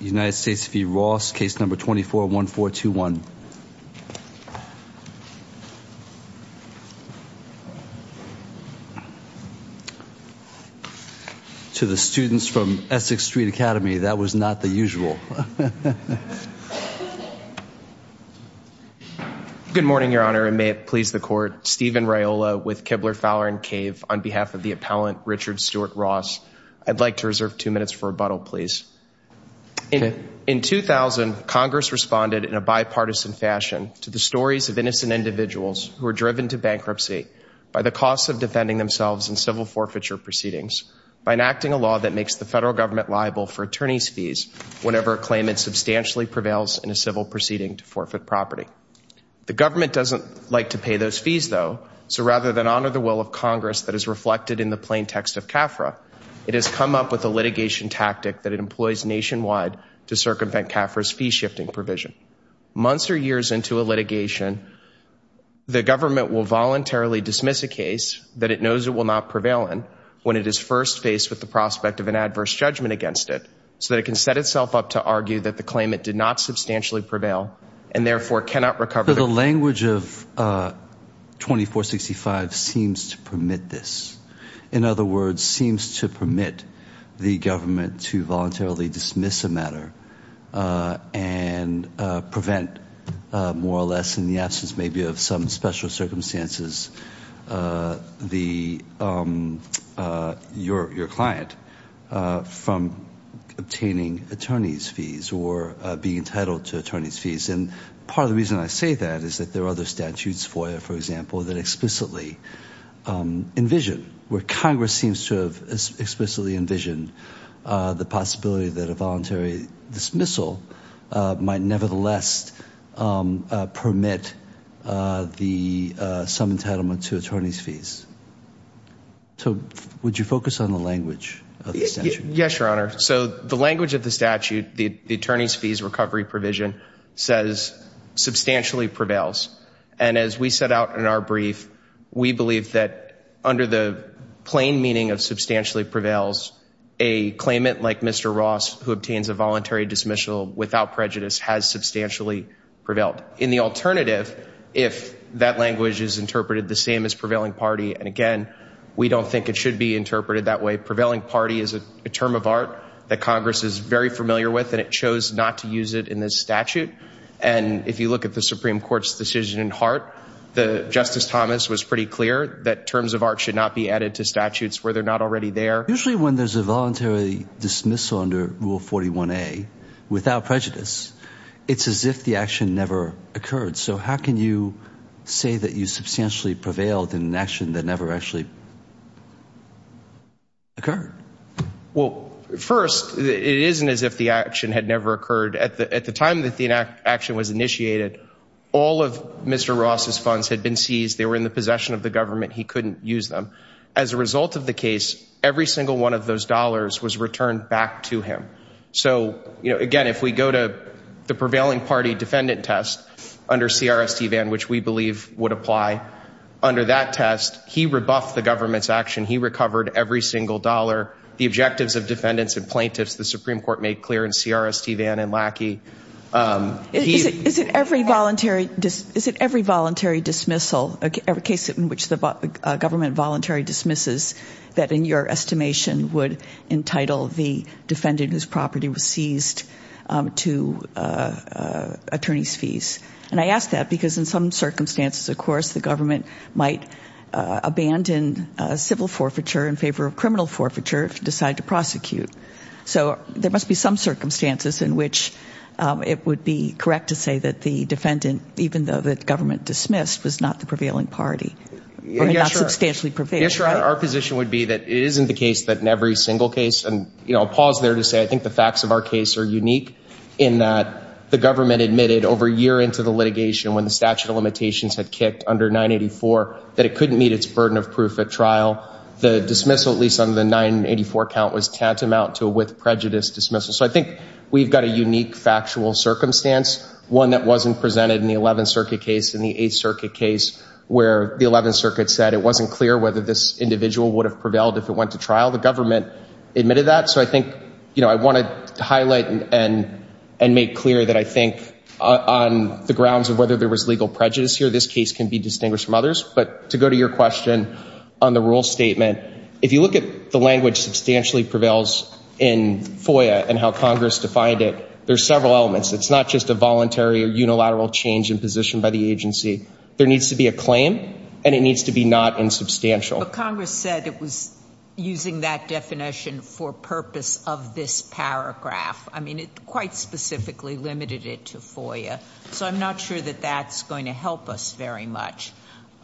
United States v. Ross, case number 241421. To the students from Essex Street Academy that was not the usual. Good morning Your Honor, and may it please the court, Stephen Raiola with Kibler Fowler & Cave on behalf of the appellant Richard Stewart Ross. I'd like to reserve two minutes for rebuttal, please. In 2000, Congress responded in a bipartisan fashion to the stories of innocent individuals who are driven to bankruptcy by the cost of defending themselves in civil forfeiture proceedings by enacting a law that makes the federal government liable for attorneys fees whenever a claimant substantially prevails in a civil proceeding to forfeit property. The government doesn't like to pay those fees though, so rather than honor the will of Congress that is reflected in the plaintext of CAFRA, it has come up with a litigation tactic that it employs nationwide to circumvent CAFRA's fee-shifting provision. Months or years into a litigation, the government will voluntarily dismiss a case that it knows it will not prevail in when it is first faced with the prospect of an adverse judgment against it, so that it can set itself up to argue that the claimant did not substantially prevail and therefore cannot recover. The language of 2465 seems to permit this. In other words, seems to permit the government to voluntarily dismiss a matter and prevent, more or less in the absence maybe of some special circumstances, your client from obtaining attorney's fees or being entitled to attorney's fees and part of the reason I say that is that there are other statutes FOIA, for example, that explicitly envision where Congress seems to have explicitly envisioned the possibility that a voluntary dismissal might nevertheless permit some entitlement to attorney's fees. So would you focus on the language? Yes, Your Honor. So the language of the statute, the attorney's fees recovery provision, says substantially prevails and as we set out in our brief, we believe that under the plain meaning of substantially prevails, a claimant like Mr. Ross who obtains a voluntary dismissal without prejudice has substantially prevailed. In the alternative, if that language is interpreted the same as prevailing party and again we don't think it should be interpreted that way, prevailing party is a term of art that Congress is very familiar with and it chose not to use it in this statute and if you look at the Supreme Court's decision in Hart, Justice Thomas was pretty clear that terms of art should not be added to statutes where they're not already there. Usually when there's a voluntary dismissal under Rule 41a without prejudice, it's as if the action never occurred. So how can you say that you substantially prevailed in an action that never actually occurred? Well first, it isn't as if the action had never occurred. At the time that the action was initiated, all of Mr. Ross's funds had been seized, they were in the possession of the government, he couldn't use them. As a result of the case, every single one of those dollars was returned back to him. So you know again, if we go to the prevailing party defendant test under CRST Van which we believe would apply, under that test he rebuffed the government's action, he recovered every single dollar, the objectives of defendants and plaintiffs the Supreme Court made clear in CRST Van and Lackey Is it every voluntary dismissal, every case in which the government voluntary dismisses, that in your estimation would entitle the defendant whose property was seized to attorney's fees? And I ask that because in some circumstances of course the government might abandon civil forfeiture in favor of criminal forfeiture if you decide to prosecute. So there must be some circumstances in which it would be correct to say that the defendant, even though the government dismissed, was not the prevailing party or not substantially prevailing. Yes, our position would be that it isn't the case that in every single case and you know I'll pause there to say I think the facts of our case are unique in that the government admitted over a year into the litigation when the statute of limitations had kicked under 984 that it couldn't meet its burden of proof at trial. The dismissal at least under the 984 count was tantamount to a prejudice dismissal. So I think we've got a unique factual circumstance, one that wasn't presented in the 11th Circuit case, in the 8th Circuit case where the 11th Circuit said it wasn't clear whether this individual would have prevailed if it went to trial. The government admitted that so I think you know I wanted to highlight and and make clear that I think on the grounds of whether there was legal prejudice here this case can be distinguished from others but to go to your question on the rule statement, if you look at the language substantially prevails in FOIA and how Congress defined it, there's several elements. It's not just a voluntary or unilateral change in position by the agency. There needs to be a claim and it needs to be not insubstantial. But Congress said it was using that definition for purpose of this paragraph. I mean it quite specifically limited it to FOIA so I'm not sure that that's going to help us very much.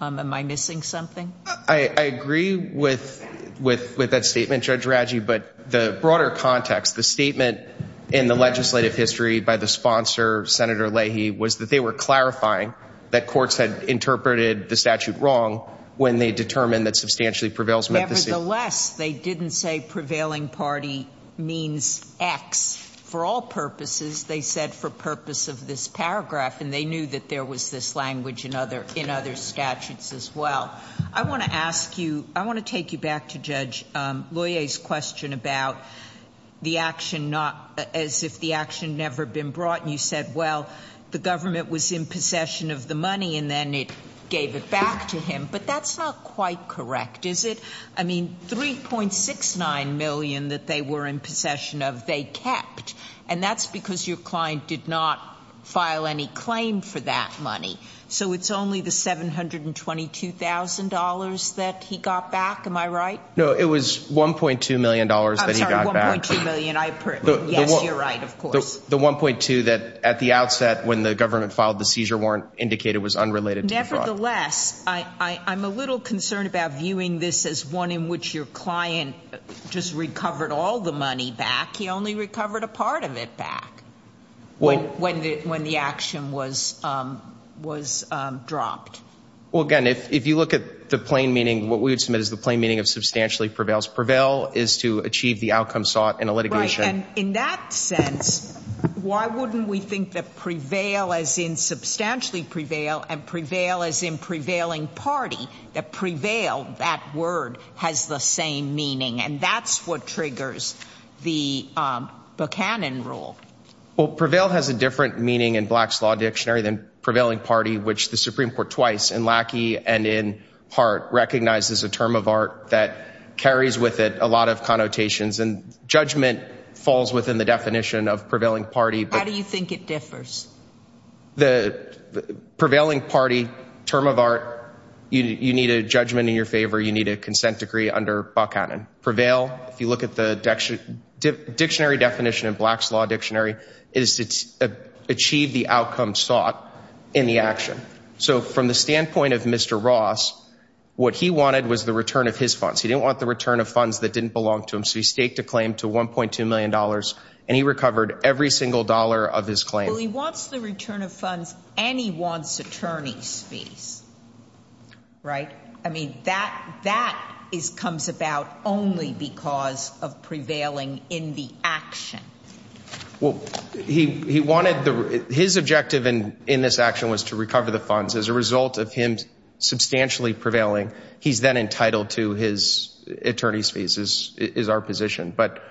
Am I missing something? I agree with that statement Judge Radji but the broader context, the statement in the legislative history by the sponsor Senator Leahy was that they were clarifying that courts had interpreted the statute wrong when they determined that substantially prevails meant the same. Nevertheless, they didn't say prevailing party means X. For all purposes, they said for purpose of this paragraph and they knew that there was this language in other statutes as well. I want to ask you, I want to take you back to Judge Loyer's question about the action not as if the action never been brought. You said well the government was in possession of the money and then it gave it back to him but that's not quite correct is it? I mean 3.69 million that they were in possession of they kept and that's because your client did not file any claim for that money so it's only the $722,000 that he got back am I right? No it was 1.2 million dollars that he got back. I'm sorry, 1.2 million. Yes, you're right of course. The 1.2 that at the outset when the government filed the seizure warrant indicated was unrelated to the fraud. Nevertheless, I'm a little concerned about viewing this as one in which your client just recovered all the money back. He only recovered a part of it back when the action was was dropped. Well again if you look at the plain meaning what we would submit is the plain meaning of substantially prevails. Prevail is to achieve the outcome sought in a litigation. In that sense why wouldn't we think that prevail as in substantially prevail and prevail as in prevailing party that prevail that word has the same meaning and that's what triggers the Buchanan rule. Well in the dictionary then prevailing party which the Supreme Court twice in Lackey and in part recognizes a term of art that carries with it a lot of connotations and judgment falls within the definition of prevailing party. How do you think it differs? The prevailing party term of art you need a judgment in your favor you need a consent decree under Buchanan. Prevail if you look at the dictionary definition of Black's Law Dictionary is to achieve the outcome sought in the action. So from the standpoint of Mr. Ross what he wanted was the return of his funds. He didn't want the return of funds that didn't belong to him so he staked a claim to 1.2 million dollars and he recovered every single dollar of his claim. He wants the return of funds and he wants attorneys fees right I mean that that is comes about only because of prevailing in the action. Well he he wanted the his objective and in this action was to recover the funds as a result of him substantially prevailing he's then entitled to his attorney's fees is is our position but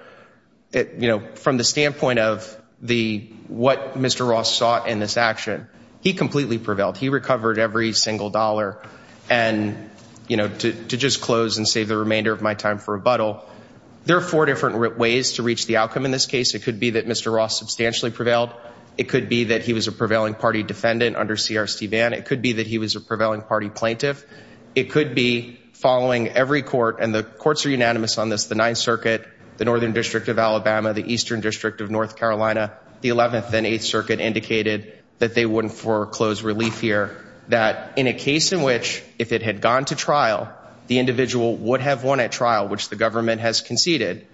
it you know from the standpoint of the what Mr. Ross sought in this action he completely prevailed he recovered every single dollar and you know to just close and save the remainder of my time for rebuttal. There are four different ways to reach the outcome in this case it could be that Mr. Ross substantially prevailed it could be that he was a prevailing party defendant under CRC ban it could be that he was a prevailing party plaintiff it could be following every court and the courts are unanimous on this the 9th Circuit the Northern District of Alabama the Eastern District of North Carolina the 11th and 8th Circuit indicated that they wouldn't for close relief here that in a case in which if it had gone to trial the individual would have won at trial which the government has conceded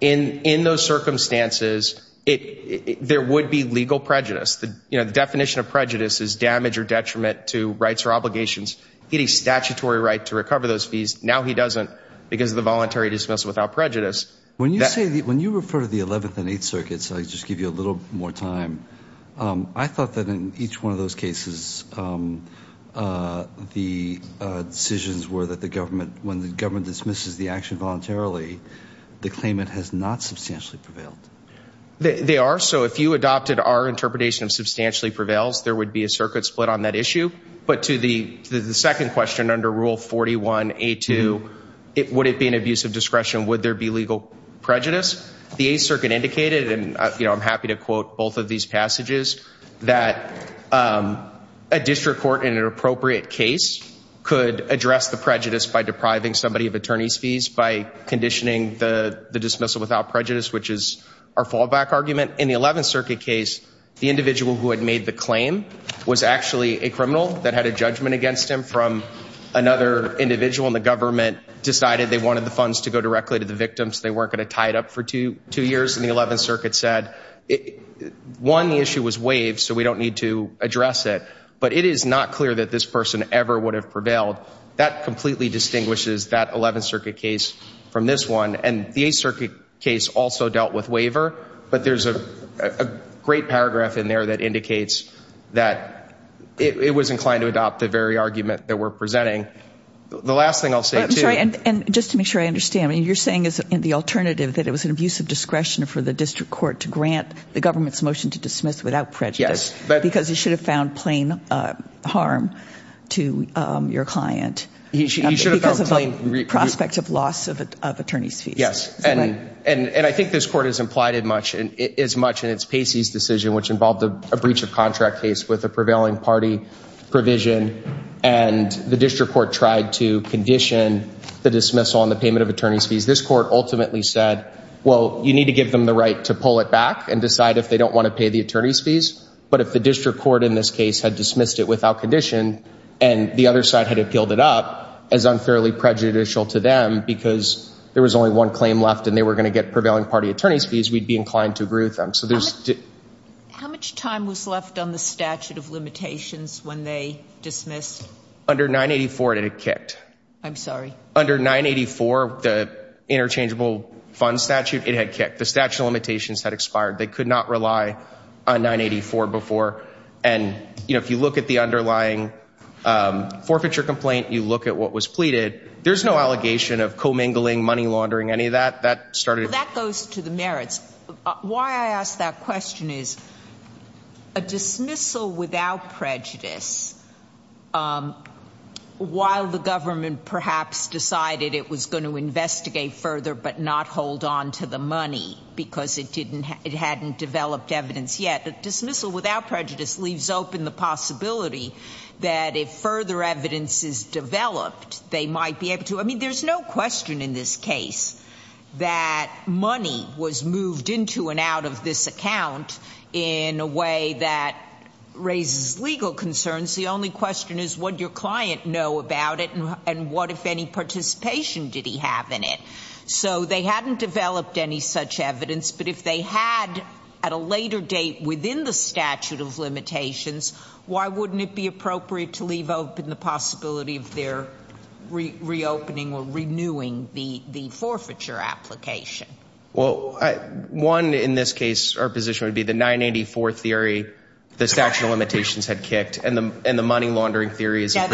in in those circumstances it there would be legal prejudice the you know the definition of prejudice is damage or detriment to rights or obligations get a statutory right to recover those fees now he doesn't because of the voluntary dismissal without prejudice. When you say that when you refer to the 11th and 8th those cases the decisions were that the government when the government dismisses the action voluntarily the claimant has not substantially prevailed. They are so if you adopted our interpretation of substantially prevails there would be a circuit split on that issue but to the the second question under Rule 41a2 it would it be an abuse of discretion would there be legal prejudice the 8th Circuit indicated and you know I'm happy to quote both of these passages that a district court in an appropriate case could address the prejudice by depriving somebody of attorneys fees by conditioning the the dismissal without prejudice which is our fallback argument in the 11th Circuit case the individual who had made the claim was actually a criminal that had a judgment against him from another individual in the government decided they wanted the funds to go directly to the victims they weren't going to tie it up for two two the 11th Circuit said one the issue was waived so we don't need to address it but it is not clear that this person ever would have prevailed that completely distinguishes that 11th Circuit case from this one and the 8th Circuit case also dealt with waiver but there's a great paragraph in there that indicates that it was inclined to adopt the very argument that we're presenting the last thing I'll say and and just to make sure I understand you're saying is in the alternative that it was an abuse of discretion for the district court to grant the government's motion to dismiss without prejudice but because he should have found plain harm to your client he should have a prospect of loss of attorneys fees yes and and and I think this court has implied it much and it is much and it's Pacey's decision which involved a breach of contract case with a prevailing party provision and the district court tried to condition the dismissal on the payment of attorneys fees this court ultimately said well you need to give them the right to pull it back and decide if they don't want to pay the attorneys fees but if the district court in this case had dismissed it without condition and the other side had appealed it up as unfairly prejudicial to them because there was only one claim left and they were going to get prevailing party attorneys fees we'd be inclined to agree with them so there's how much time was left on the statute of limitations when they dismissed under 984 it had kicked I'm sorry under 984 the interchangeable fund statute it had kicked the statute of limitations had expired they could not rely on 984 before and you know if you look at the underlying forfeiture complaint you look at what was pleaded there's no allegation of commingling money laundering any of that that started that goes to the merits why I that question is a dismissal without prejudice while the government perhaps decided it was going to investigate further but not hold on to the money because it didn't it hadn't developed evidence yet the dismissal without prejudice leaves open the possibility that if further evidence is developed they might be able to I mean there's no question in this case that money was moved into and out of this account in a way that raises legal concerns the only question is what your client know about it and what if any participation did he have in it so they hadn't developed any such evidence but if they had at a later date within the statute of limitations why wouldn't it be appropriate to leave open the possibility of their reopening or renewing the the forfeiture application well I won in this case our position would be the 984 theory the statute of limitations had kicked and the and the money laundering theory is that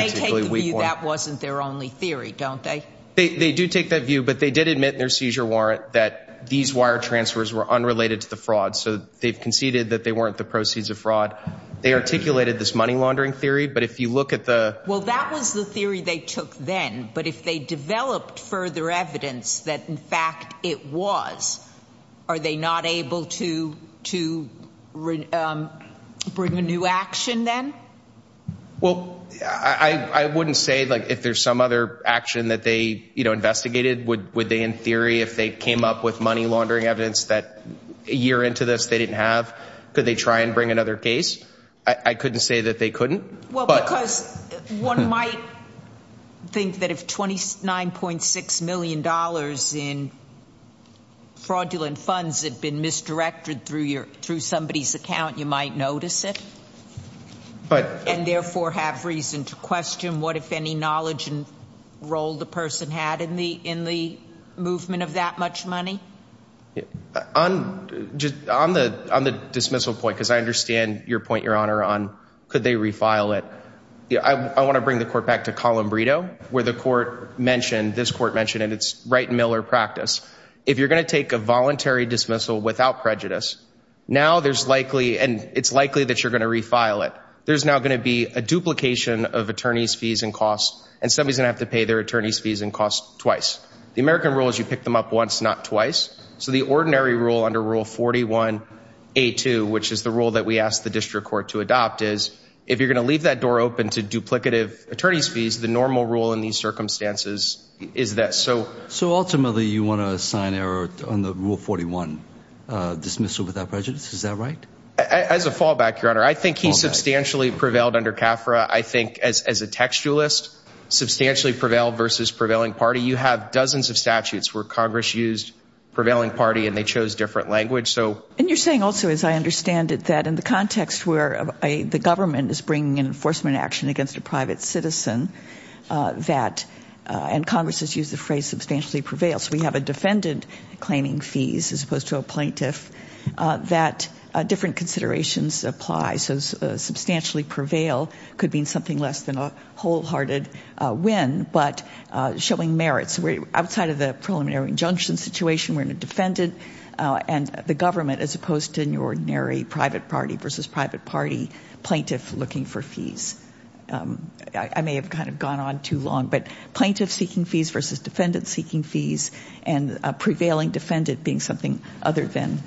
wasn't their only theory don't they they do take that view but they did admit their seizure warrant that these wire transfers were unrelated to the fraud so they've conceded that they weren't the proceeds of fraud they articulated this money laundering theory but if you look at the well that was the they took then but if they developed further evidence that in fact it was are they not able to to bring a new action then well I I wouldn't say like if there's some other action that they you know investigated would would they in theory if they came up with money laundering evidence that a year into this they didn't have could they try and bring another case I couldn't say that they couldn't well because one might think that if twenty nine point six million dollars in fraudulent funds had been misdirected through your through somebody's account you might notice it but and therefore have reason to question what if any knowledge and role the person had in the in the movement of that much money on just on the on the dismissal point because I understand your point your honor on could they refile it yeah I want to bring the court back to Columbrito where the court mentioned this court mentioned and it's right Miller practice if you're gonna take a voluntary dismissal without prejudice now there's likely and it's likely that you're gonna refile it there's now gonna be a duplication of attorneys fees and costs and somebody's gonna have to pay their attorneys fees and costs twice the American rule is you pick them up once not twice so the ordinary rule under rule 41 a 2 which is the rule that we asked the district court to adopt is if you're gonna leave that door open to duplicative attorneys fees the normal rule in these circumstances is that so so ultimately you want to assign error on the rule 41 dismissal without prejudice is that right as a fallback your honor I think he substantially prevailed under CAFRA I think as a textualist substantially prevail versus prevailing party you have dozens of statutes where Congress used prevailing party and they chose different language so and you're saying also as I understand it that in the context where the government is bringing an enforcement action against a private citizen that and Congress has used the phrase substantially prevails we have a defendant claiming fees as opposed to a plaintiff that different considerations apply so substantially prevail could mean something less than a wholehearted win but showing merits we're outside of the preliminary injunction situation we're in a defendant and the government as opposed to an ordinary private party versus private party plaintiff looking for fees I may have kind of gone on too long but plaintiff seeking fees versus defendant seeking fees and prevailing defendant being something other than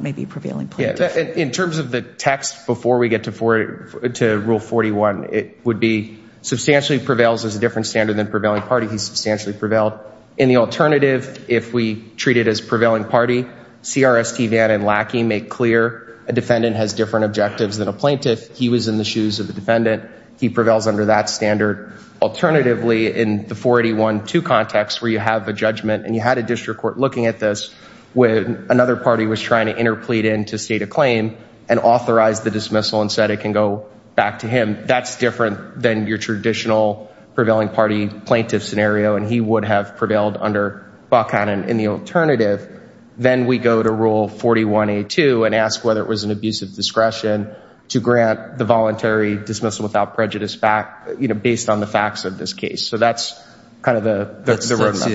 maybe prevailing yeah in terms of the text before we get to for it to rule 41 it would be substantially prevails as a different standard than prevailing party he's substantially prevailed in the alternative if we treat it as prevailing party CRST Van and Lackey make clear a defendant has different objectives than a plaintiff he was in the shoes of the defendant he prevails under that standard alternatively in the 481 to context where you have a judgment and you had a district court looking at this when another party was trying to interplead in to state a claim and authorize the dismissal and said it can go back to him that's different than your traditional prevailing party plaintiff scenario and he would have prevailed under Buchanan in the alternative then we go to rule 41 a2 and ask whether it was an abuse of discretion to grant the voluntary dismissal without prejudice back you know based on the facts of this case so that's kind of the analysis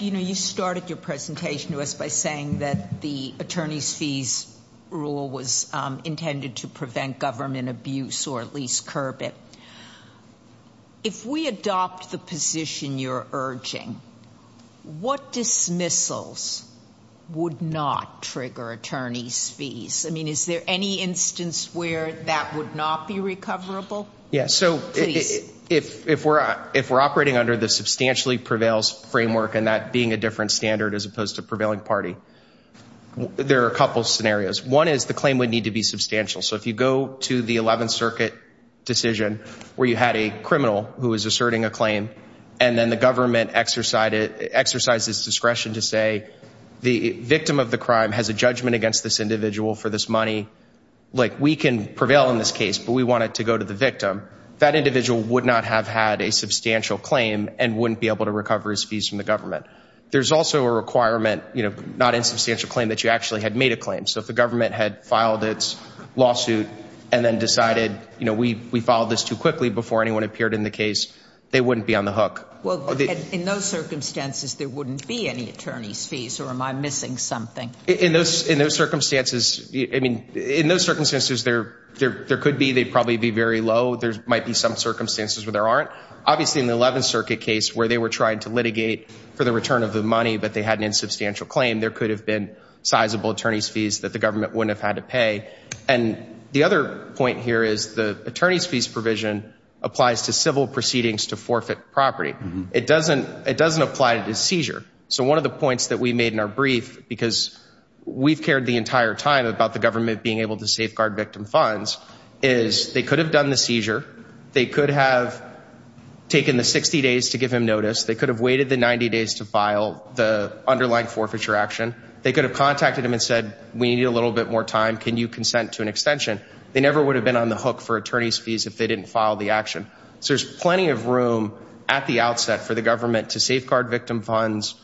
you know you started your presentation to us by saying that the attorneys fees rule was intended to prevent government abuse or at least curb it if we adopt the position you're urging what dismissals would not trigger attorneys fees I mean is there any instance where that would not be recoverable yes so if we're if we're operating under the substantially prevails framework and that being a different standard as opposed to prevailing party there are a couple scenarios one is the claim would need to be substantial so if you go to the 11th and then the government exercise it exercises discretion to say the victim of the crime has a judgment against this individual for this money like we can prevail in this case but we want it to go to the victim that individual would not have had a substantial claim and wouldn't be able to recover his fees from the government there's also a requirement you know not in substantial claim that you actually had made a claim so if the government had filed its lawsuit and then decided you know we we followed this too quickly before anyone appeared in the case they wouldn't be on the hook well in those circumstances there wouldn't be any attorneys fees or am I missing something in those in those circumstances I mean in those circumstances there there there could be they'd probably be very low there's might be some circumstances where there aren't obviously in the 11th Circuit case where they were trying to litigate for the return of the money but they had an insubstantial claim there could have been sizable attorneys fees that the government wouldn't have had to pay and the other point here is the attorneys fees provision applies to civil proceedings to forfeit property it doesn't it doesn't apply to the seizure so one of the points that we made in our brief because we've cared the entire time about the government being able to safeguard victim funds is they could have done the seizure they could have taken the 60 days to give him notice they could have waited the 90 days to file the underlying forfeiture action they could have contacted him and said we need a little bit more time can you consent to an extension they never would have been on the hook for attorneys fees if they didn't file the action so there's plenty of room at the outset for the government to safeguard victim funds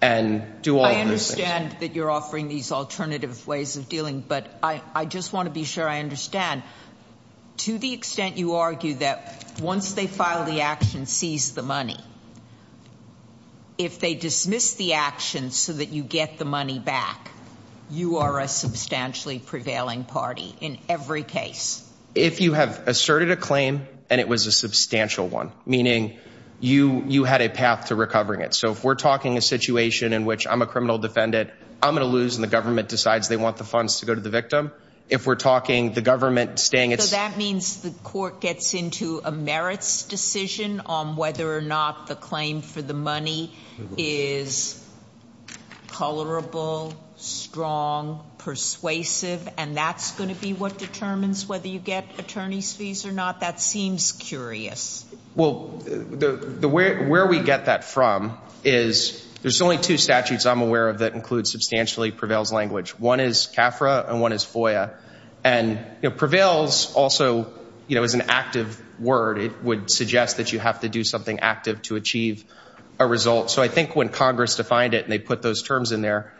and do all understand that you're offering these alternative ways of dealing but I I just want to be sure I understand to the extent you argue that once they file the action seize the money if they dismiss the action so that you get the money back you are a substantially prevailing party in every case if you have asserted a claim and it was a substantial one meaning you you had a path to recovering it so if we're talking a situation in which I'm a criminal defendant I'm gonna lose and the government decides they want the funds to go to the victim if we're talking the government staying it's that means the court gets into a merits decision on whether or not the claim for the money is tolerable strong persuasive and that's going to be what determines whether you get attorneys fees or not that seems curious well the where we get that from is there's only two statutes I'm aware of that includes substantially prevails language one is FOIA and prevails also you know as an active word it would suggest that you have to do something active to achieve a result so I think when Congress defined it and they put those terms in there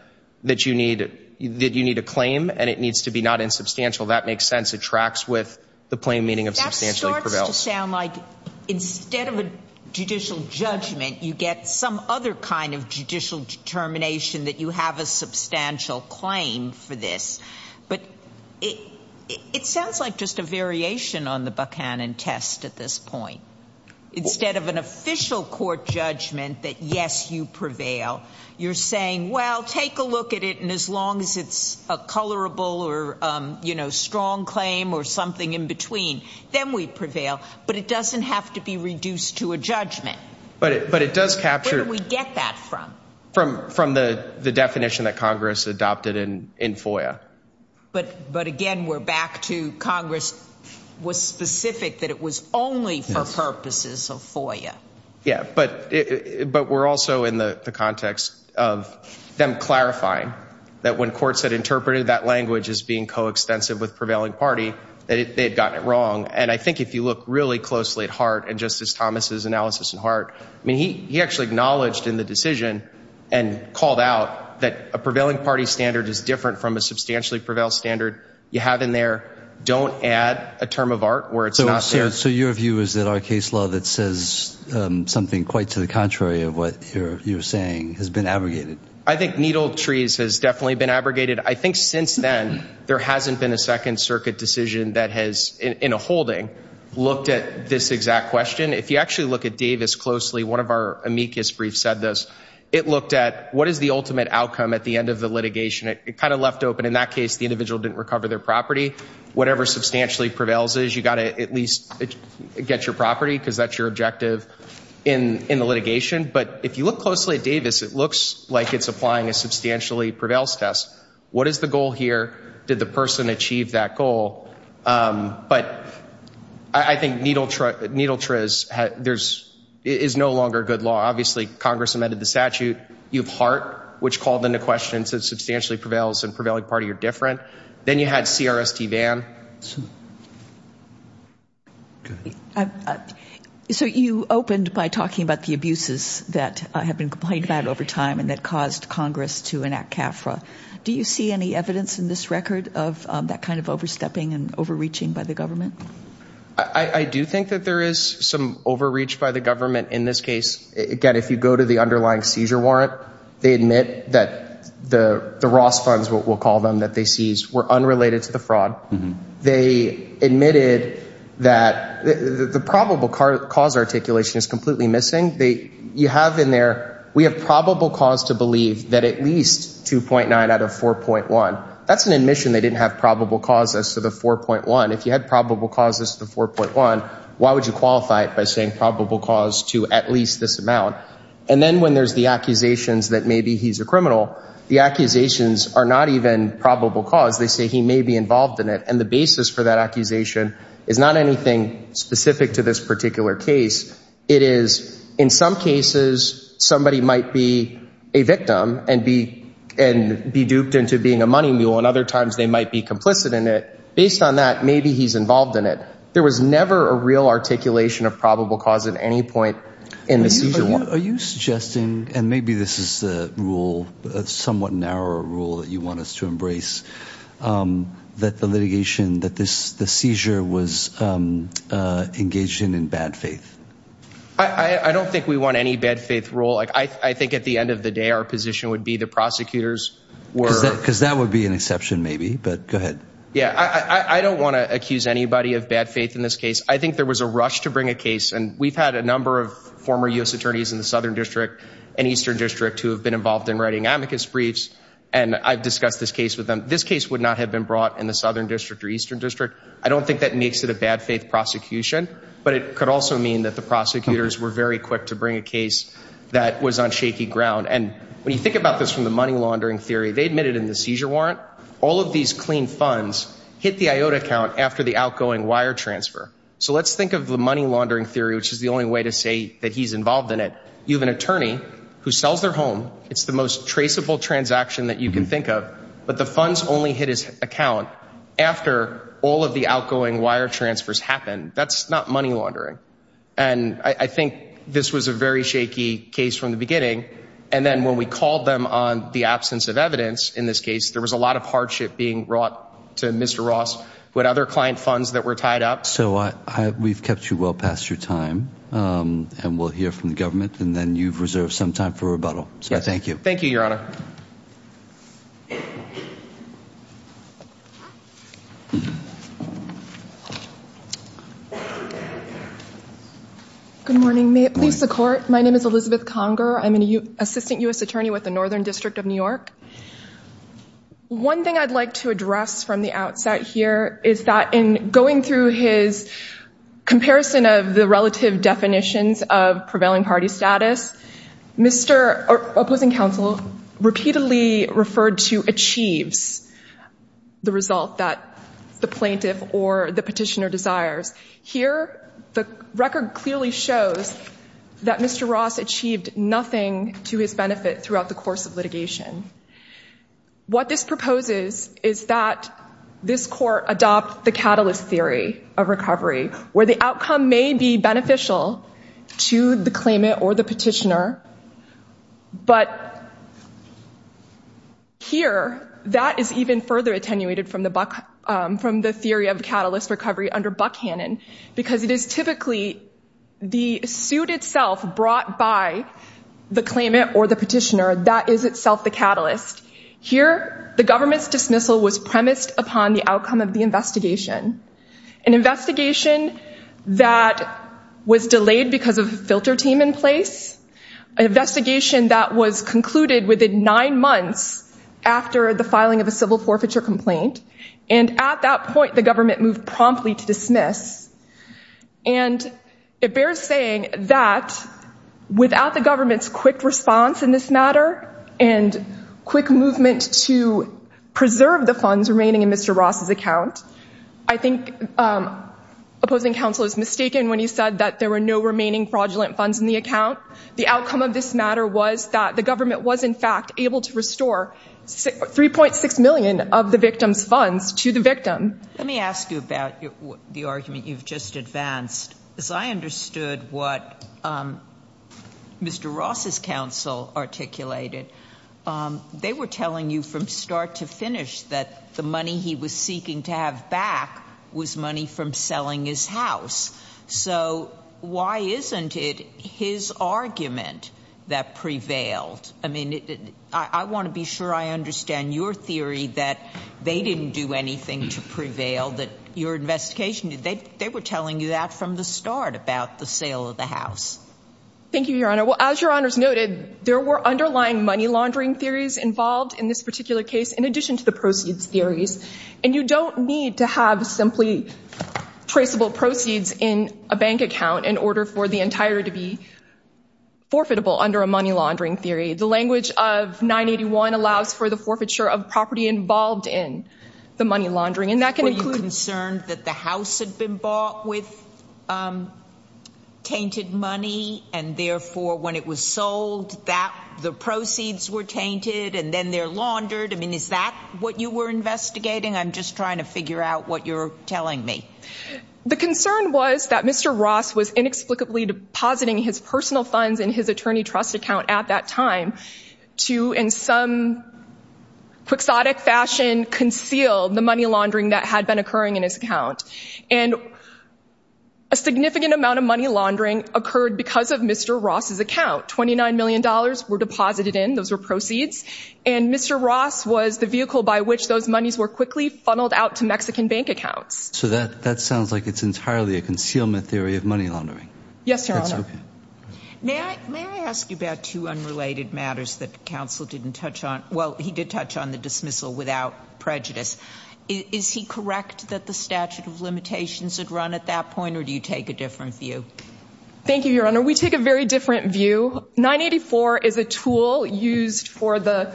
that you need that you need a claim and it needs to be not insubstantial that makes sense it tracks with the plain meaning of substantially prevails. That starts to sound like instead of a judicial judgment you get some other kind of judicial determination that you have a substantial claim for this but it sounds like just a variation on the Buchanan test at this point instead of an official court judgment that yes you prevail you're saying well take a look at it and as long as it's a colorable or you know strong claim or something in between then we prevail but it doesn't have to be reduced to a judgment but it but it does capture we get that from from from the definition that Congress adopted in in FOIA. But but again we're back to Congress was specific that it was only for purposes of FOIA. Yeah but it but we're also in the context of them clarifying that when courts had interpreted that language as being coextensive with prevailing party that they had gotten it wrong and I think if you look really closely at Hart and Justice Thomas's analysis in Hart I mean he he actually acknowledged in the decision and called out that a prevailing party standard is different from a substantially prevailed standard you have in there don't add a term of art where it's not there. So your view is that our case law that says something quite to the contrary of what you're you're saying has been abrogated? I think needle trees has definitely been abrogated I think since then there hasn't been a Second Circuit decision that has in a holding looked at this exact question if you actually look at Davis closely one of our amicus brief said this it looked at what is the ultimate outcome at the end of the litigation it kind of left open in that case the individual didn't recover their property whatever substantially prevails is you got to at least get your property because that's your objective in in the litigation but if you look closely at Davis it looks like it's applying a substantially prevails test what is the goal here did the person achieve that goal but I think needle truck needle is there's is no longer good law obviously Congress amended the statute you've heart which called into questions that substantially prevails and prevailing party are different then you had CRST van so you opened by talking about the abuses that I have been complained about over time and that caused Congress to enact CAFRA do you see any evidence in this record of that kind of overstepping and overreaching by the government I I do think that there is some overreach by the government in this case again if you go to the underlying seizure warrant they admit that the the Ross funds what we'll call them that they seized were unrelated to the fraud they admitted that the probable cause articulation is completely missing they you have in there we have probable cause to believe that at least 2.9 out of 4.1 that's an admission they didn't have probable cause as to the 4.1 if you had probable causes to 4.1 why would you qualify it by saying probable cause to at least this amount and then when there's the accusations that maybe he's a criminal the accusations are not even probable cause they say he may be involved in it and the basis for that accusation is not anything specific to this particular case it is in some cases somebody might be a victim and be and be duped into being a money mule and other times they might be complicit in it based on that maybe he's involved in it there was never a real articulation of probable cause at any point in the season what are you suggesting and maybe this is the rule somewhat narrower rule that you want us to embrace that the litigation that this the seizure was engaged in in bad faith I I don't think we want any bad faith rule like I think at the end of the day our position would be the prosecutors were because that would be an exception maybe but go ahead yeah I don't want to accuse anybody of bad faith in this case I think there was a rush to bring a case and we've had a number of former US attorneys in the Southern District and Eastern District who have been involved in writing amicus briefs and I've discussed this case with them this case would not have been brought in the Southern District or Eastern District I don't think that makes it a bad faith prosecution but it could also mean that the prosecutors were very quick to bring a case that was on shaky ground and when you think about this from the money laundering theory they admitted in the seizure warrant all of these clean funds hit the iota count after the outgoing wire transfer so let's think of the money laundering theory which is the only way to say that he's involved in it you have an attorney who sells their home it's the most traceable transaction that you can think of but the funds only hit his account after all of the outgoing wire transfers happen that's not money laundering and I think this was a very shaky case from the beginning and then when we called them on the absence of evidence in this case there was a lot of hardship being brought to Mr. Ross what other client funds that were tied up so I we've kept you well past your time and we'll hear from the government and then you've reserved some time for rebuttal so I thank you thank you your honor good morning may it please the court my name is Elizabeth Conger I'm an assistant attorney with the Northern District of New York one thing I'd like to address from the outset here is that in going through his comparison of the relative definitions of prevailing party status mr. opposing counsel repeatedly referred to achieves the result that the plaintiff or the petitioner desires here the record clearly shows that mr. Ross achieved nothing to his benefit throughout the course of litigation what this proposes is that this court adopt the catalyst theory of recovery where the outcome may be beneficial to the claimant or the petitioner but here that is even further attenuated from the buck from the theory of catalyst recovery under Buckhannon because it is typically the suit itself brought by the claimant or the petitioner that is itself the catalyst here the government's dismissal was premised upon the outcome of the investigation an investigation that was delayed because of a filter team in place investigation that was concluded within nine months after the filing of a at that point the government moved promptly to dismiss and it bears saying that without the government's quick response in this matter and quick movement to preserve the funds remaining in mr. Ross's account I think opposing counsel is mistaken when he said that there were no remaining fraudulent funds in the account the outcome of this matter was that the government was in able to restore 3.6 million of the victim's funds to the victim let me ask you about the argument you've just advanced as I understood what mr. Ross's counsel articulated they were telling you from start to finish that the money he was seeking to have back was money from selling his house so why isn't it his argument that prevailed I mean I want to be sure I understand your theory that they didn't do anything to prevail that your investigation did they they were telling you that from the start about the sale of the house thank you your honor well as your honors noted there were underlying money laundering theories involved in this particular case in addition to the proceeds theories and you don't need to have simply traceable proceeds in a bank account in order for the entire to be forfeitable under a money laundering theory the language of 981 allows for the forfeiture of property involved in the money laundering and that can include concern that the house had been bought with tainted money and therefore when it was sold that the proceeds were tainted and then they're laundered I mean is that what you were investigating I'm just trying to figure out what you're telling me the concern was that mr. Ross was inexplicably depositing his personal funds in his attorney trust account at that time to in some quixotic fashion conceal the money laundering that had been occurring in his account and a significant amount of money laundering occurred because of mr. Ross's account 29 million dollars were deposited in those were proceeds and mr. Ross was the vehicle by which those monies were quickly funneled out to Mexican bank accounts so that that like it's entirely a concealment theory of money laundering yes sir may I ask you about two unrelated matters that counsel didn't touch on well he did touch on the dismissal without prejudice is he correct that the statute of limitations had run at that point or do you take a different view thank you your honor we take a very different view 984 is a tool used for the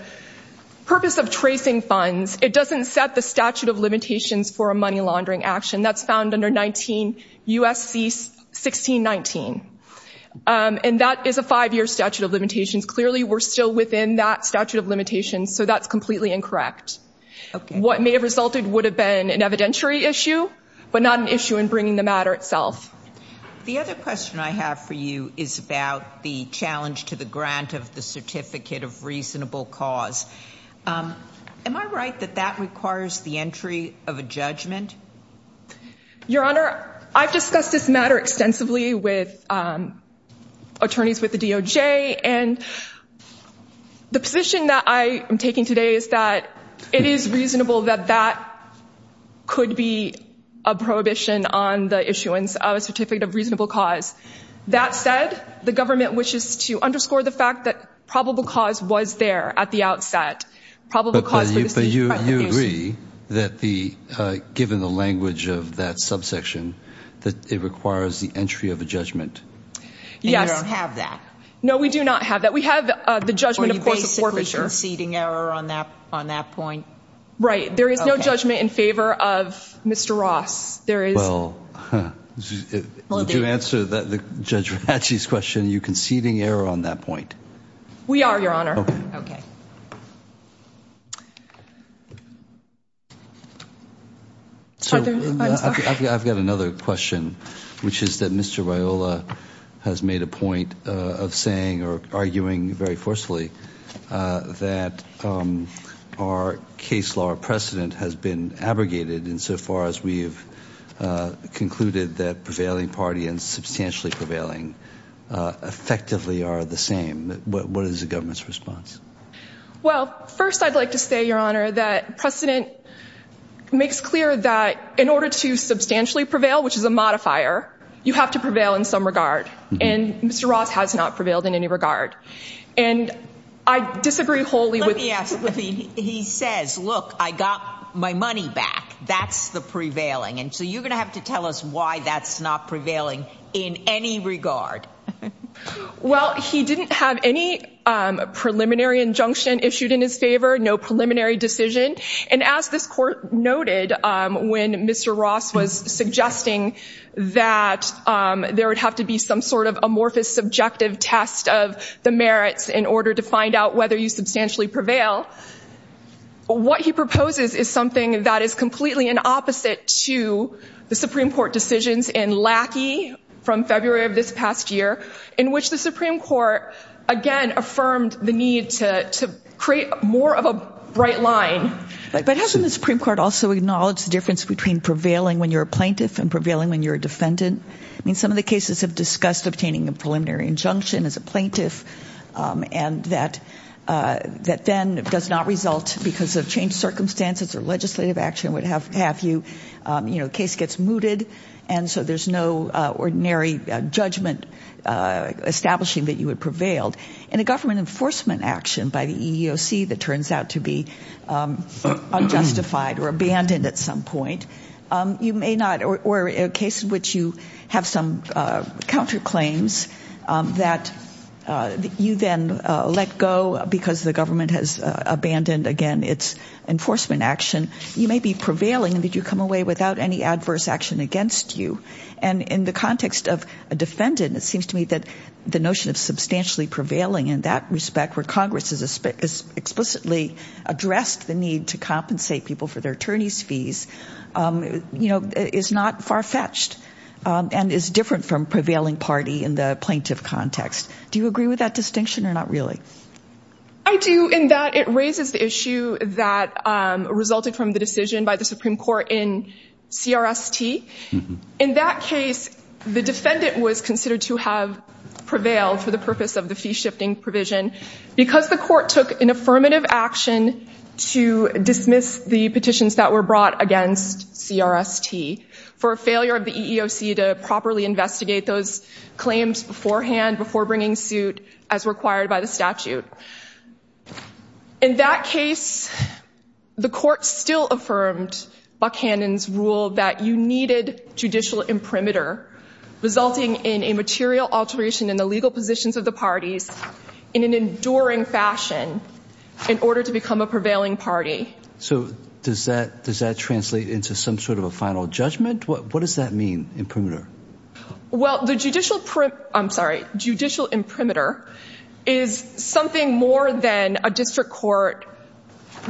purpose of tracing funds it doesn't set the statute of limitations for a money laundering action that's found under 19 USC 1619 and that is a five-year statute of limitations clearly we're still within that statute of limitations so that's completely incorrect what may have resulted would have been an evidentiary issue but not an issue in bringing the matter itself the other question I have for you is about the challenge to the grant of the certificate of reasonable cause am I right that that requires the entry of a judgment your honor I've discussed this matter extensively with attorneys with the DOJ and the position that I am taking today is that it is reasonable that that could be a prohibition on the issuance of a certificate of reasonable cause that said the government wishes to underscore the fact that probable cause was there at the outset probably because you agree that the given the language of that subsection that it requires the entry of a judgment yeah I don't have that no we do not have that we have the judgment of course a poor picture seating error on that on that point right there is no judgment in favor of mr. Ross there is well did you answer that the judge Ratchie's question you conceding error on that point we are your honor okay so I've got another question which is that mr. Viola has made a point of saying or arguing very forcefully that our case law precedent has been abrogated insofar as we've concluded that prevailing party and substantially prevailing effectively are the same what is the government's response well first I'd like to say your honor that precedent makes clear that in order to substantially prevail which is a modifier you have to prevail in some regard and mr. Ross has not prevailed in any regard and I disagree wholly with yes he says look I got my money back that's the prevailing and so you're gonna have to tell us why that's not prevailing in any regard well he didn't have any preliminary injunction issued in his favor no preliminary decision and as this court noted when mr. Ross was suggesting that there would have to be some sort of amorphous subjective test of the merits in order to find out whether you substantially prevail what he proposes is something that is completely an opposite to the Supreme Court decisions in Lackey from February of this past year in which the Supreme Court again affirmed the need to create more of a bright line but hasn't the Supreme Court also acknowledged difference between prevailing when you're a plaintiff and prevailing when you're a defendant I mean some of the cases have discussed obtaining a preliminary injunction as a plaintiff and that that then does not result because of changed circumstances or legislative action would have have you case gets mooted and so there's no ordinary judgment establishing that you had prevailed in a government enforcement action by the EEOC that turns out to be unjustified or abandoned at some point you may not or a case in which you have some counterclaims that you then let go because the government has abandoned again it's enforcement action you may be prevailing and did you come away without any adverse action against you and in the context of a defendant it seems to me that the notion of substantially prevailing in that respect where Congress is explicitly addressed the need to compensate people for their attorneys fees you know is not far-fetched and is different from prevailing party in the plaintiff context do you agree with that distinction or not really I do in that it raises the issue that resulted from the decision by the Supreme Court in CRST in that case the defendant was considered to have prevailed for the purpose of the fee shifting provision because the court took an affirmative action to dismiss the petitions that were brought against CRST for a failure of the EEOC to properly investigate those claims beforehand before bringing suit as required by the statute in that case the court still affirmed Buchanan's rule that you needed judicial imprimatur resulting in a material alteration in the legal positions of the parties in an enduring fashion in order to become a prevailing party so does that does that translate into some sort of a final judgment what what does that mean imprimatur well the judicial print I'm sorry judicial imprimatur is something more than a district court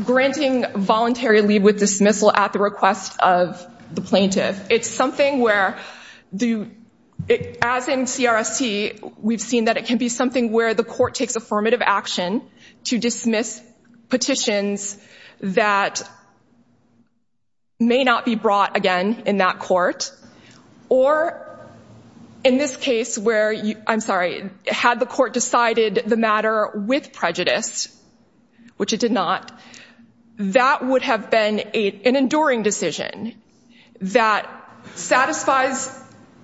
granting voluntary leave with dismissal at the request of the plaintiff it's something where do it as in CRST we've seen that it can be something where the court takes affirmative action to dismiss petitions that may not be brought again in that court or in this where I'm sorry had the court decided the matter with prejudice which it did not that would have been a an enduring decision that satisfies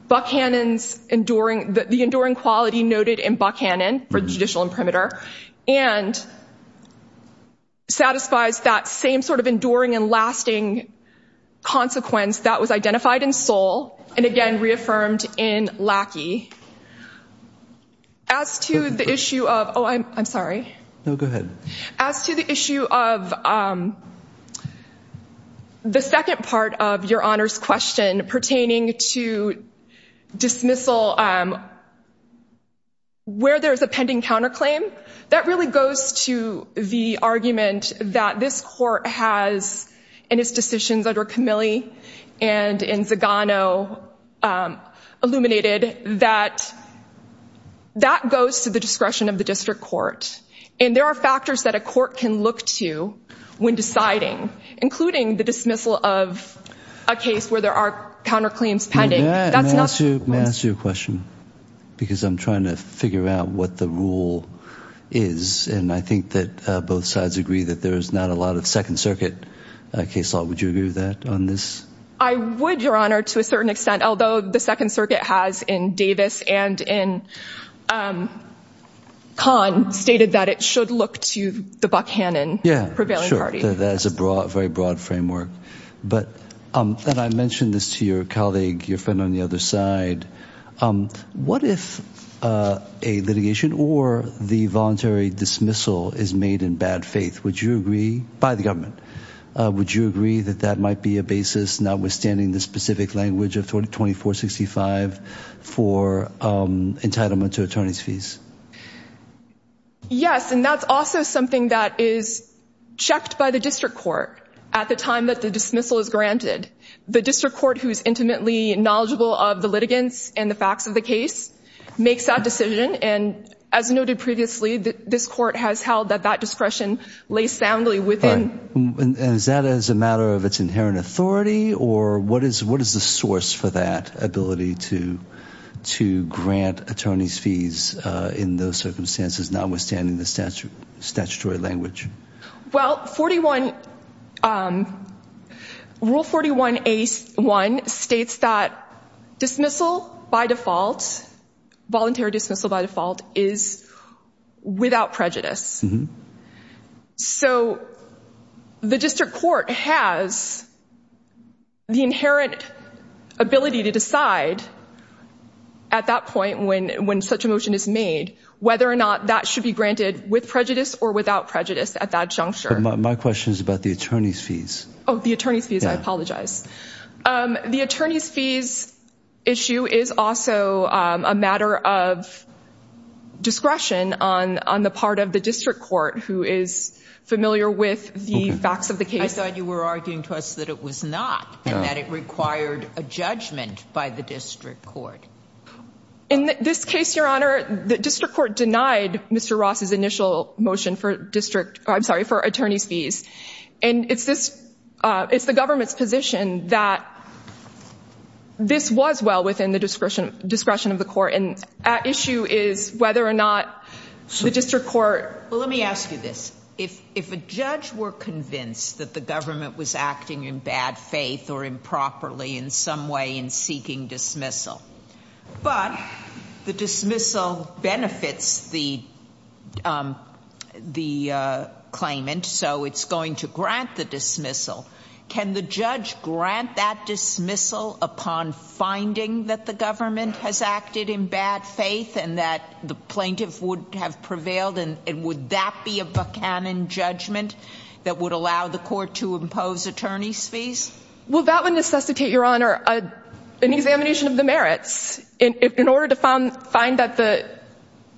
Buchanan's enduring that the enduring quality noted in Buchanan for judicial imprimatur and satisfies that same sort of enduring and lasting consequence that was identified in Seoul and again reaffirmed in Lackey as to the issue of oh I'm sorry no go ahead as to the issue of the second part of your honors question pertaining to dismissal where there's a pending counterclaim that really goes to the argument that this court has in its decisions under Camille and in Zagano illuminated that that goes to the discretion of the district court and there are factors that a court can look to when deciding including the dismissal of a case where there are counterclaims pending that's not to master your question because I'm trying to figure out what the rule is and I think that both sides agree that there is not a lot of Second Circuit case law would you agree with that on this I would your honor to a certain extent although the Second Circuit has in Davis and in Khan stated that it should look to the Buchanan yeah prevailing party that is a broad very broad framework but um and I mentioned this to your colleague your friend on the other side what if a litigation or the voluntary dismissal is made in bad faith would you agree by the government would you agree that that might be a basis notwithstanding the specific language of 20 2465 for entitlement to attorney's fees yes and that's also something that is checked by the district court at the time that the dismissal is granted the district court who's intimately knowledgeable of the and the facts of the case makes that decision and as noted previously that this court has held that that discretion lays soundly within and is that as a matter of its inherent authority or what is what is the source for that ability to to grant attorneys fees in those circumstances notwithstanding the statutory language well 41 rule 41 a1 states that dismissal by default voluntary dismissal by default is without prejudice so the district court has the inherent ability to decide at that point when when such a motion is whether or not that should be granted with prejudice or without prejudice at that juncture my question is about the attorney's fees Oh the attorney's fees I apologize the attorney's fees issue is also a matter of discretion on on the part of the district court who is familiar with the facts of the case I thought you were arguing to us that it was not and that it required a judgment by the district court in this case your honor the district court denied mr. Ross his initial motion for district I'm sorry for attorney's fees and it's this it's the government's position that this was well within the discretion discretion of the court and issue is whether or not the district court let me ask you this if if a judge were convinced that the government was acting in bad faith or properly in some way in seeking dismissal but the dismissal benefits the the claimant so it's going to grant the dismissal can the judge grant that dismissal upon finding that the government has acted in bad faith and that the plaintiff would have prevailed and it would that be a Buchanan judgment that would allow the court to impose attorney's fees well that would necessitate your honor a an examination of the merits in order to find find that the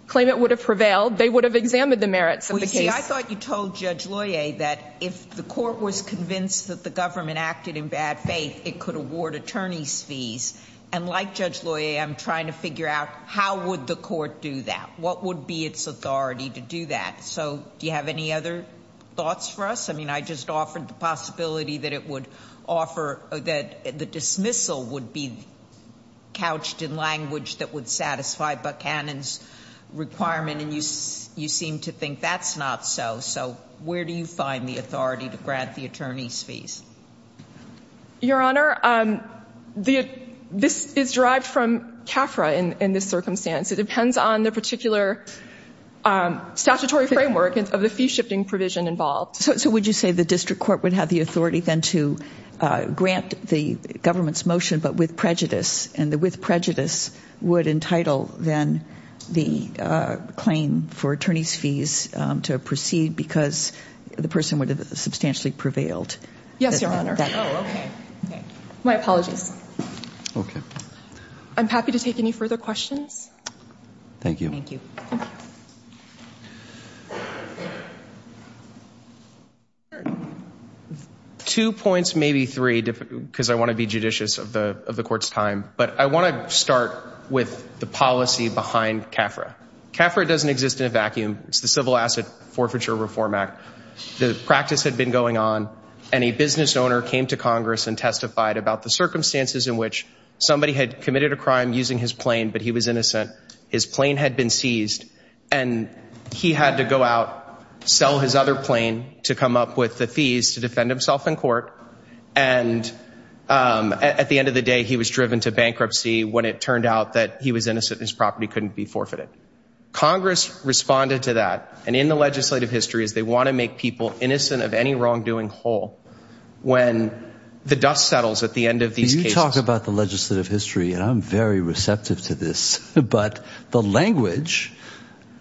claimant would have prevailed they would have examined the merits of the case I thought you told judge Loya that if the court was convinced that the government acted in bad faith it could award attorney's fees and like judge Loya I'm trying to figure out how would the court do that what would be its authority to do that so do you have any other thoughts for us I mean I just offered the possibility that it would offer that the dismissal would be couched in language that would satisfy Buchanan's requirement and you you seem to think that's not so so where do you find the authority to grant the attorney's fees your honor the this is derived from CAFRA in in this circumstance it depends on the particular statutory framework of the fee shifting provision involved so would you say the district court would have the authority then to grant the government's motion but with prejudice and the with prejudice would entitle then the claim for attorney's fees to proceed because the person would have substantially prevailed yes your honor my apologies okay I'm happy to take any further questions thank you two points maybe three because I want to be judicious of the of the court's time but I want to start with the policy behind CAFRA CAFRA doesn't exist in a vacuum it's the Civil Asset Forfeiture Reform Act the practice had been going on and a business owner came to Congress and testified about the circumstances in which somebody had committed a crime using his plane but he was innocent his plane had been seized and he had to go out sell his other plane to come up with the fees to defend himself in court and at the end of the day he was driven to bankruptcy when it turned out that he was innocent his property couldn't be forfeited Congress responded to that and in the legislative history is they want to make people innocent of any wrongdoing whole when the dust settles at the end of these talk about the history and I'm very receptive to this but the language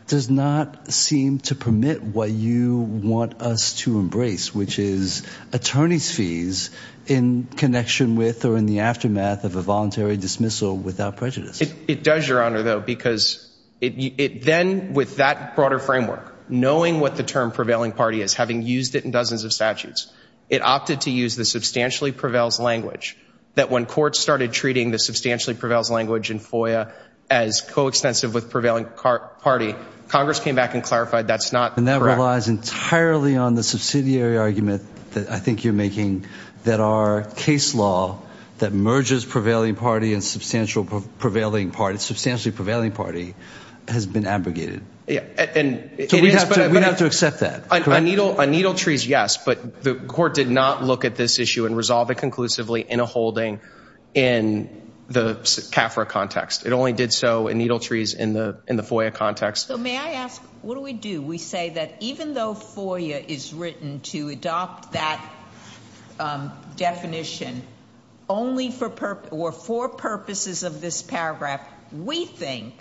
does not seem to permit what you want us to embrace which is attorneys fees in connection with or in the aftermath of a voluntary dismissal without prejudice it does your honor though because it then with that broader framework knowing what the term prevailing party is having used it in dozens of statutes it opted to use the substantially prevails language that when court started treating the substantially prevails language in FOIA as coextensive with prevailing party Congress came back and clarified that's not and that relies entirely on the subsidiary argument that I think you're making that our case law that merges prevailing party and substantial prevailing party substantially prevailing party has been abrogated yeah and we have to accept that a needle a trees yes but the court did not look at this issue and resolve it conclusively in a holding in the CAFRA context it only did so in needle trees in the in the FOIA context so may I ask what do we do we say that even though FOIA is written to adopt that definition only for purpose or for purposes of this paragraph we think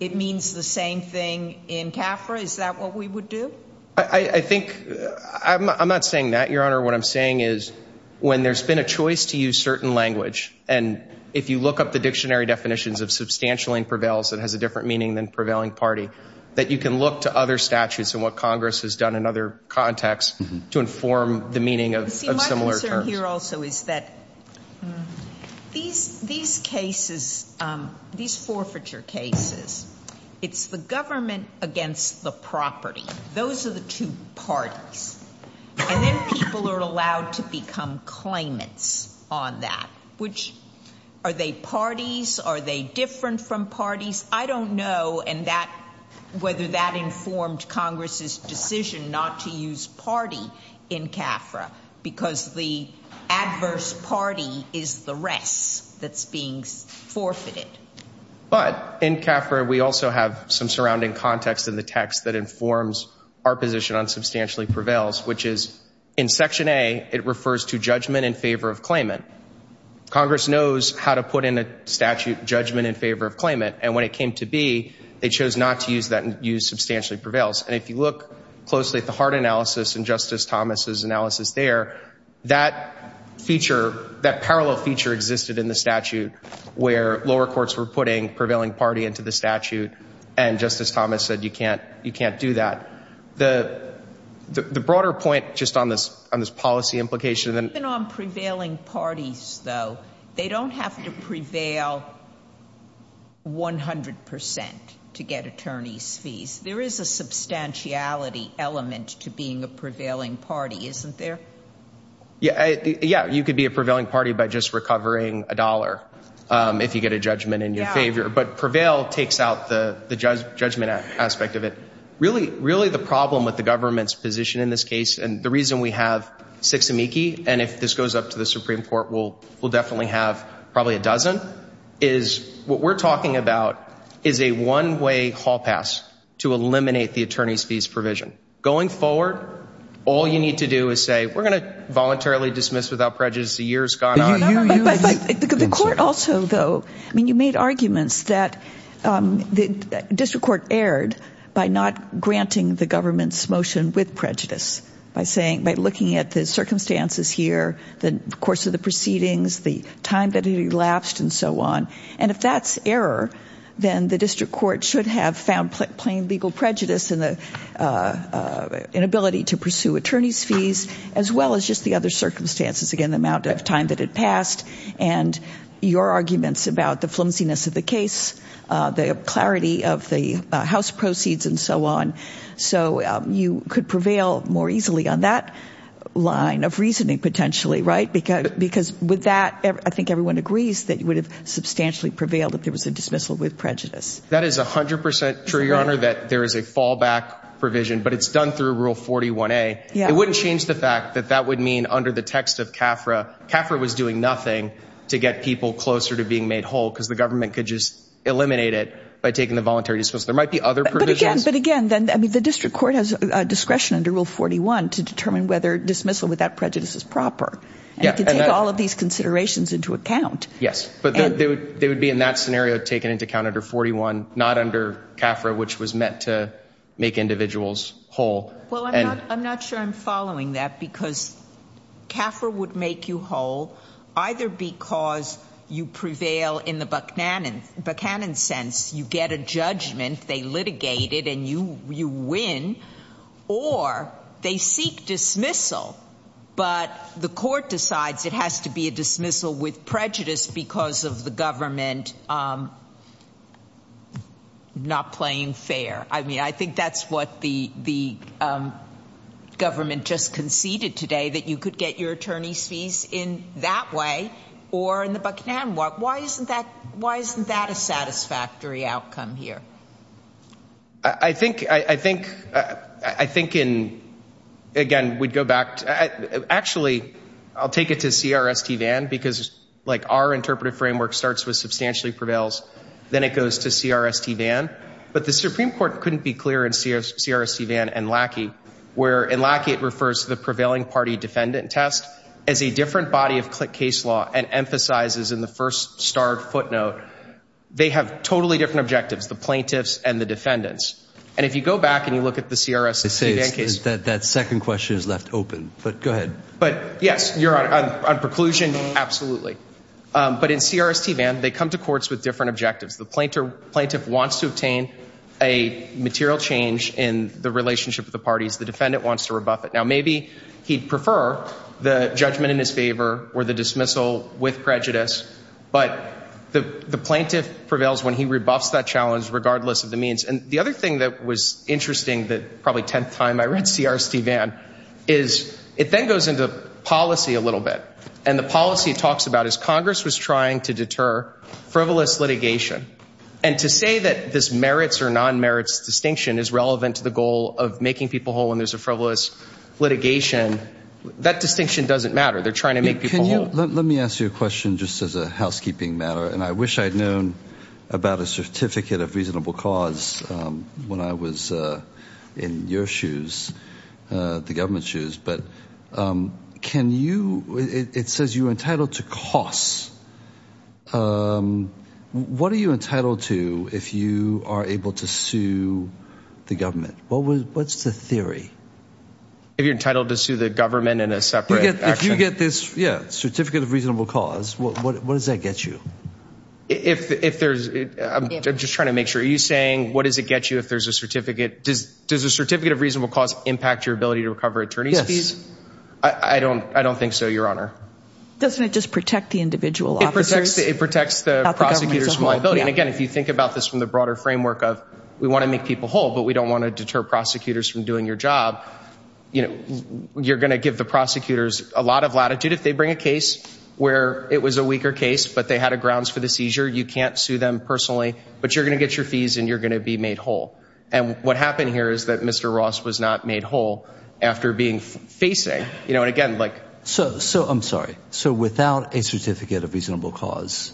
it means the same thing in CAFRA is that what we would do I think I'm not saying that your honor what I'm saying is when there's been a choice to use certain language and if you look up the dictionary definitions of substantially prevails that has a different meaning than prevailing party that you can look to other statutes and what Congress has done in other contexts to inform the meaning of similar here also is that these these cases these forfeiture cases it's the government against the property those are the two parties and then people are allowed to become claimants on that which are they parties are they different from parties I don't know and that whether that informed Congress's decision not to use party in CAFRA because the adverse party is the rest that's being forfeited but in CAFRA we also have some surrounding context in the text that informs our position on substantially prevails which is in section a it refers to judgment in favor of claimant Congress knows how to put in a statute judgment in favor of claimant and when it came to be they chose not to use that and use substantially prevails and if you look closely at the hard analysis and Justice Thomas's analysis there that feature that parallel feature existed in the statute where lower courts were putting prevailing party into the statute and Justice Thomas said you can't you can't do that the the broader point just on this on this policy implication then on prevailing parties though they don't have to prevail 100% to get attorneys fees there is a substantiality element to being a prevailing party isn't there yeah yeah you could be a prevailing party by just recovering a dollar if you get a judgment in your favor but prevail takes out the the judgment aspect of it really really the problem with the government's position in this case and the reason we have six amici and if this goes up to the Supreme Court will will definitely have probably a dozen is what we're talking about is a one-way hall pass to eliminate the attorneys fees provision going forward all you need to do is say we're going to voluntarily dismiss without prejudice the years gone on the court also though I mean you made arguments that the district court erred by not granting the government's motion with prejudice by saying by looking at the circumstances here the course of the proceedings the time that he lapsed and so on and if that's error then the district court should have found plain legal prejudice in the inability to pursue attorneys fees as well as just the other circumstances again the amount of time that had passed and your arguments about the flimsiness of the case the clarity of the house proceeds and so on so you could prevail more easily on that line of reasoning potentially right because because with that I think everyone agrees that you would have substantially prevailed if there was a dismissal with prejudice that is a hundred percent true your honor that there is a fallback provision but it's done through rule 41a it wouldn't change the fact that that would mean under the text of CAFRA CAFRA was doing nothing to get people closer to being made whole because the government could just eliminate it by taking the voluntary dismissal there might be other but again but again then I mean the district court has discretion under rule 41 to determine whether dismissal without prejudice is proper and I can take all of these considerations into account yes but they would be in that scenario taken into count under 41 not under CAFRA which was meant to make individuals whole well I'm not sure I'm following that because CAFRA would make you whole either because you prevail in the Buchanan sense you get a judgment they litigated and you you win or they seek dismissal but the court decides it has to be a dismissal with prejudice because of the government not playing fair I mean I think that's what the the government just conceded today that you could get your attorney's fees in that way or in the Buchanan walk why isn't that why isn't that a satisfactory outcome here I think I think I think in again we'd go back actually I'll take it to CRST Van because like our interpretive framework starts with substantially prevails then it goes to CRST Van but the Supreme Court couldn't be clear in CRST Van and Lackey where in Lackey it refers to the prevailing party defendant test as a different body of case law and emphasizes in the first starred footnote they have totally different objectives the plaintiffs and the defendants and if you go back and you look at the CRST Van case that that second question is left open but go ahead but yes you're on preclusion absolutely but in CRST Van they come to courts with different objectives the planter plaintiff wants to obtain a material change in the relationship of the parties the defendant wants to rebuff it now maybe he'd prefer the judgment in his favor or the dismissal with prejudice but the the plaintiff prevails when he rebuffs that challenge regardless of the means and the other thing that was interesting that probably 10th time I read CRST Van is it then goes into policy a little bit and the policy talks about as Congress was trying to deter frivolous litigation and to say that this merits or non merits distinction is relevant to the goal of making people whole when there's a frivolous litigation that distinction doesn't matter they're trying to make people let me ask you a question just as a housekeeping matter and I wish I'd known about a certificate of reasonable cause when I was in your shoes the government shoes but can you it says you're entitled to costs what are you entitled to if you are able to sue the government what was what's the theory if you're entitled to sue the government in a separate if you get this yeah certificate of reasonable cause what does that get you if there's I'm just trying to make sure you saying what does it get you if there's a certificate does there's a certificate of reasonable cause impact your ability to recover attorney's fees I don't I don't think so your honor doesn't it just protect the individual officers it protects the prosecutors liability and again if you think about this from the broader framework of we want to make people whole but we don't want to deter prosecutors from doing your job you know you're gonna give the prosecutors a lot of latitude if they bring a case where it was a weaker case but they had a grounds for the seizure you can't sue them personally but you're gonna get your fees and you're gonna be made whole and what happened here is that mr. Ross was not made whole after being facing you know and again like so so I'm sorry so without a certificate of reasonable cause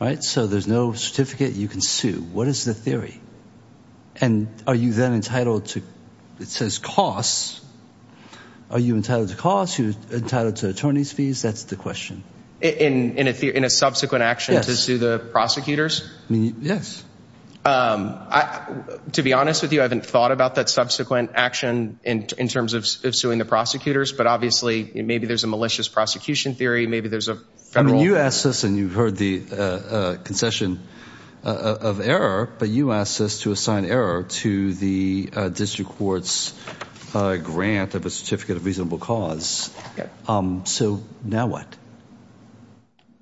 right so there's no certificate you can sue what is the theory and are you then entitled to it says costs are you entitled to cost you entitled to attorneys fees that's the question in in a theory in a subsequent action to sue the prosecutors yes I to be honest with you I haven't thought about that subsequent action in terms of suing the prosecutors but obviously maybe there's a malicious prosecution theory maybe there's a federal you asked us and you've the concession of error but you asked us to assign error to the district courts grant of a certificate of reasonable cause so now what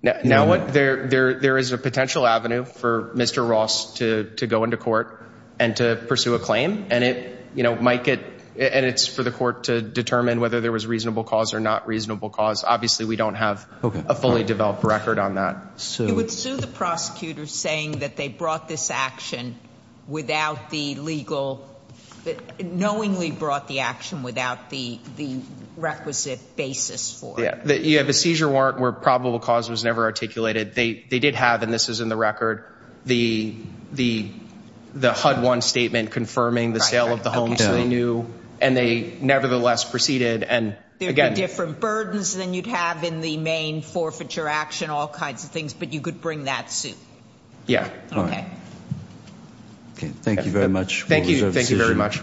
now what there there there is a potential avenue for mr. Ross to to go into court and to pursue a claim and it you know Mike it and it's for the court to determine whether there was reasonable cause or not reasonable cause obviously we don't have a fully developed record on that so the prosecutors saying that they brought this action without the legal that knowingly brought the action without the the requisite basis for that you have a seizure warrant where probable cause was never articulated they they did have and this is in the record the the the HUD one statement confirming the sale of the homes they knew and they nevertheless proceeded and again different burdens than you'd have in the main forfeiture action all kinds of things but you could bring that suit yeah okay okay thank you very much thank you thank you very much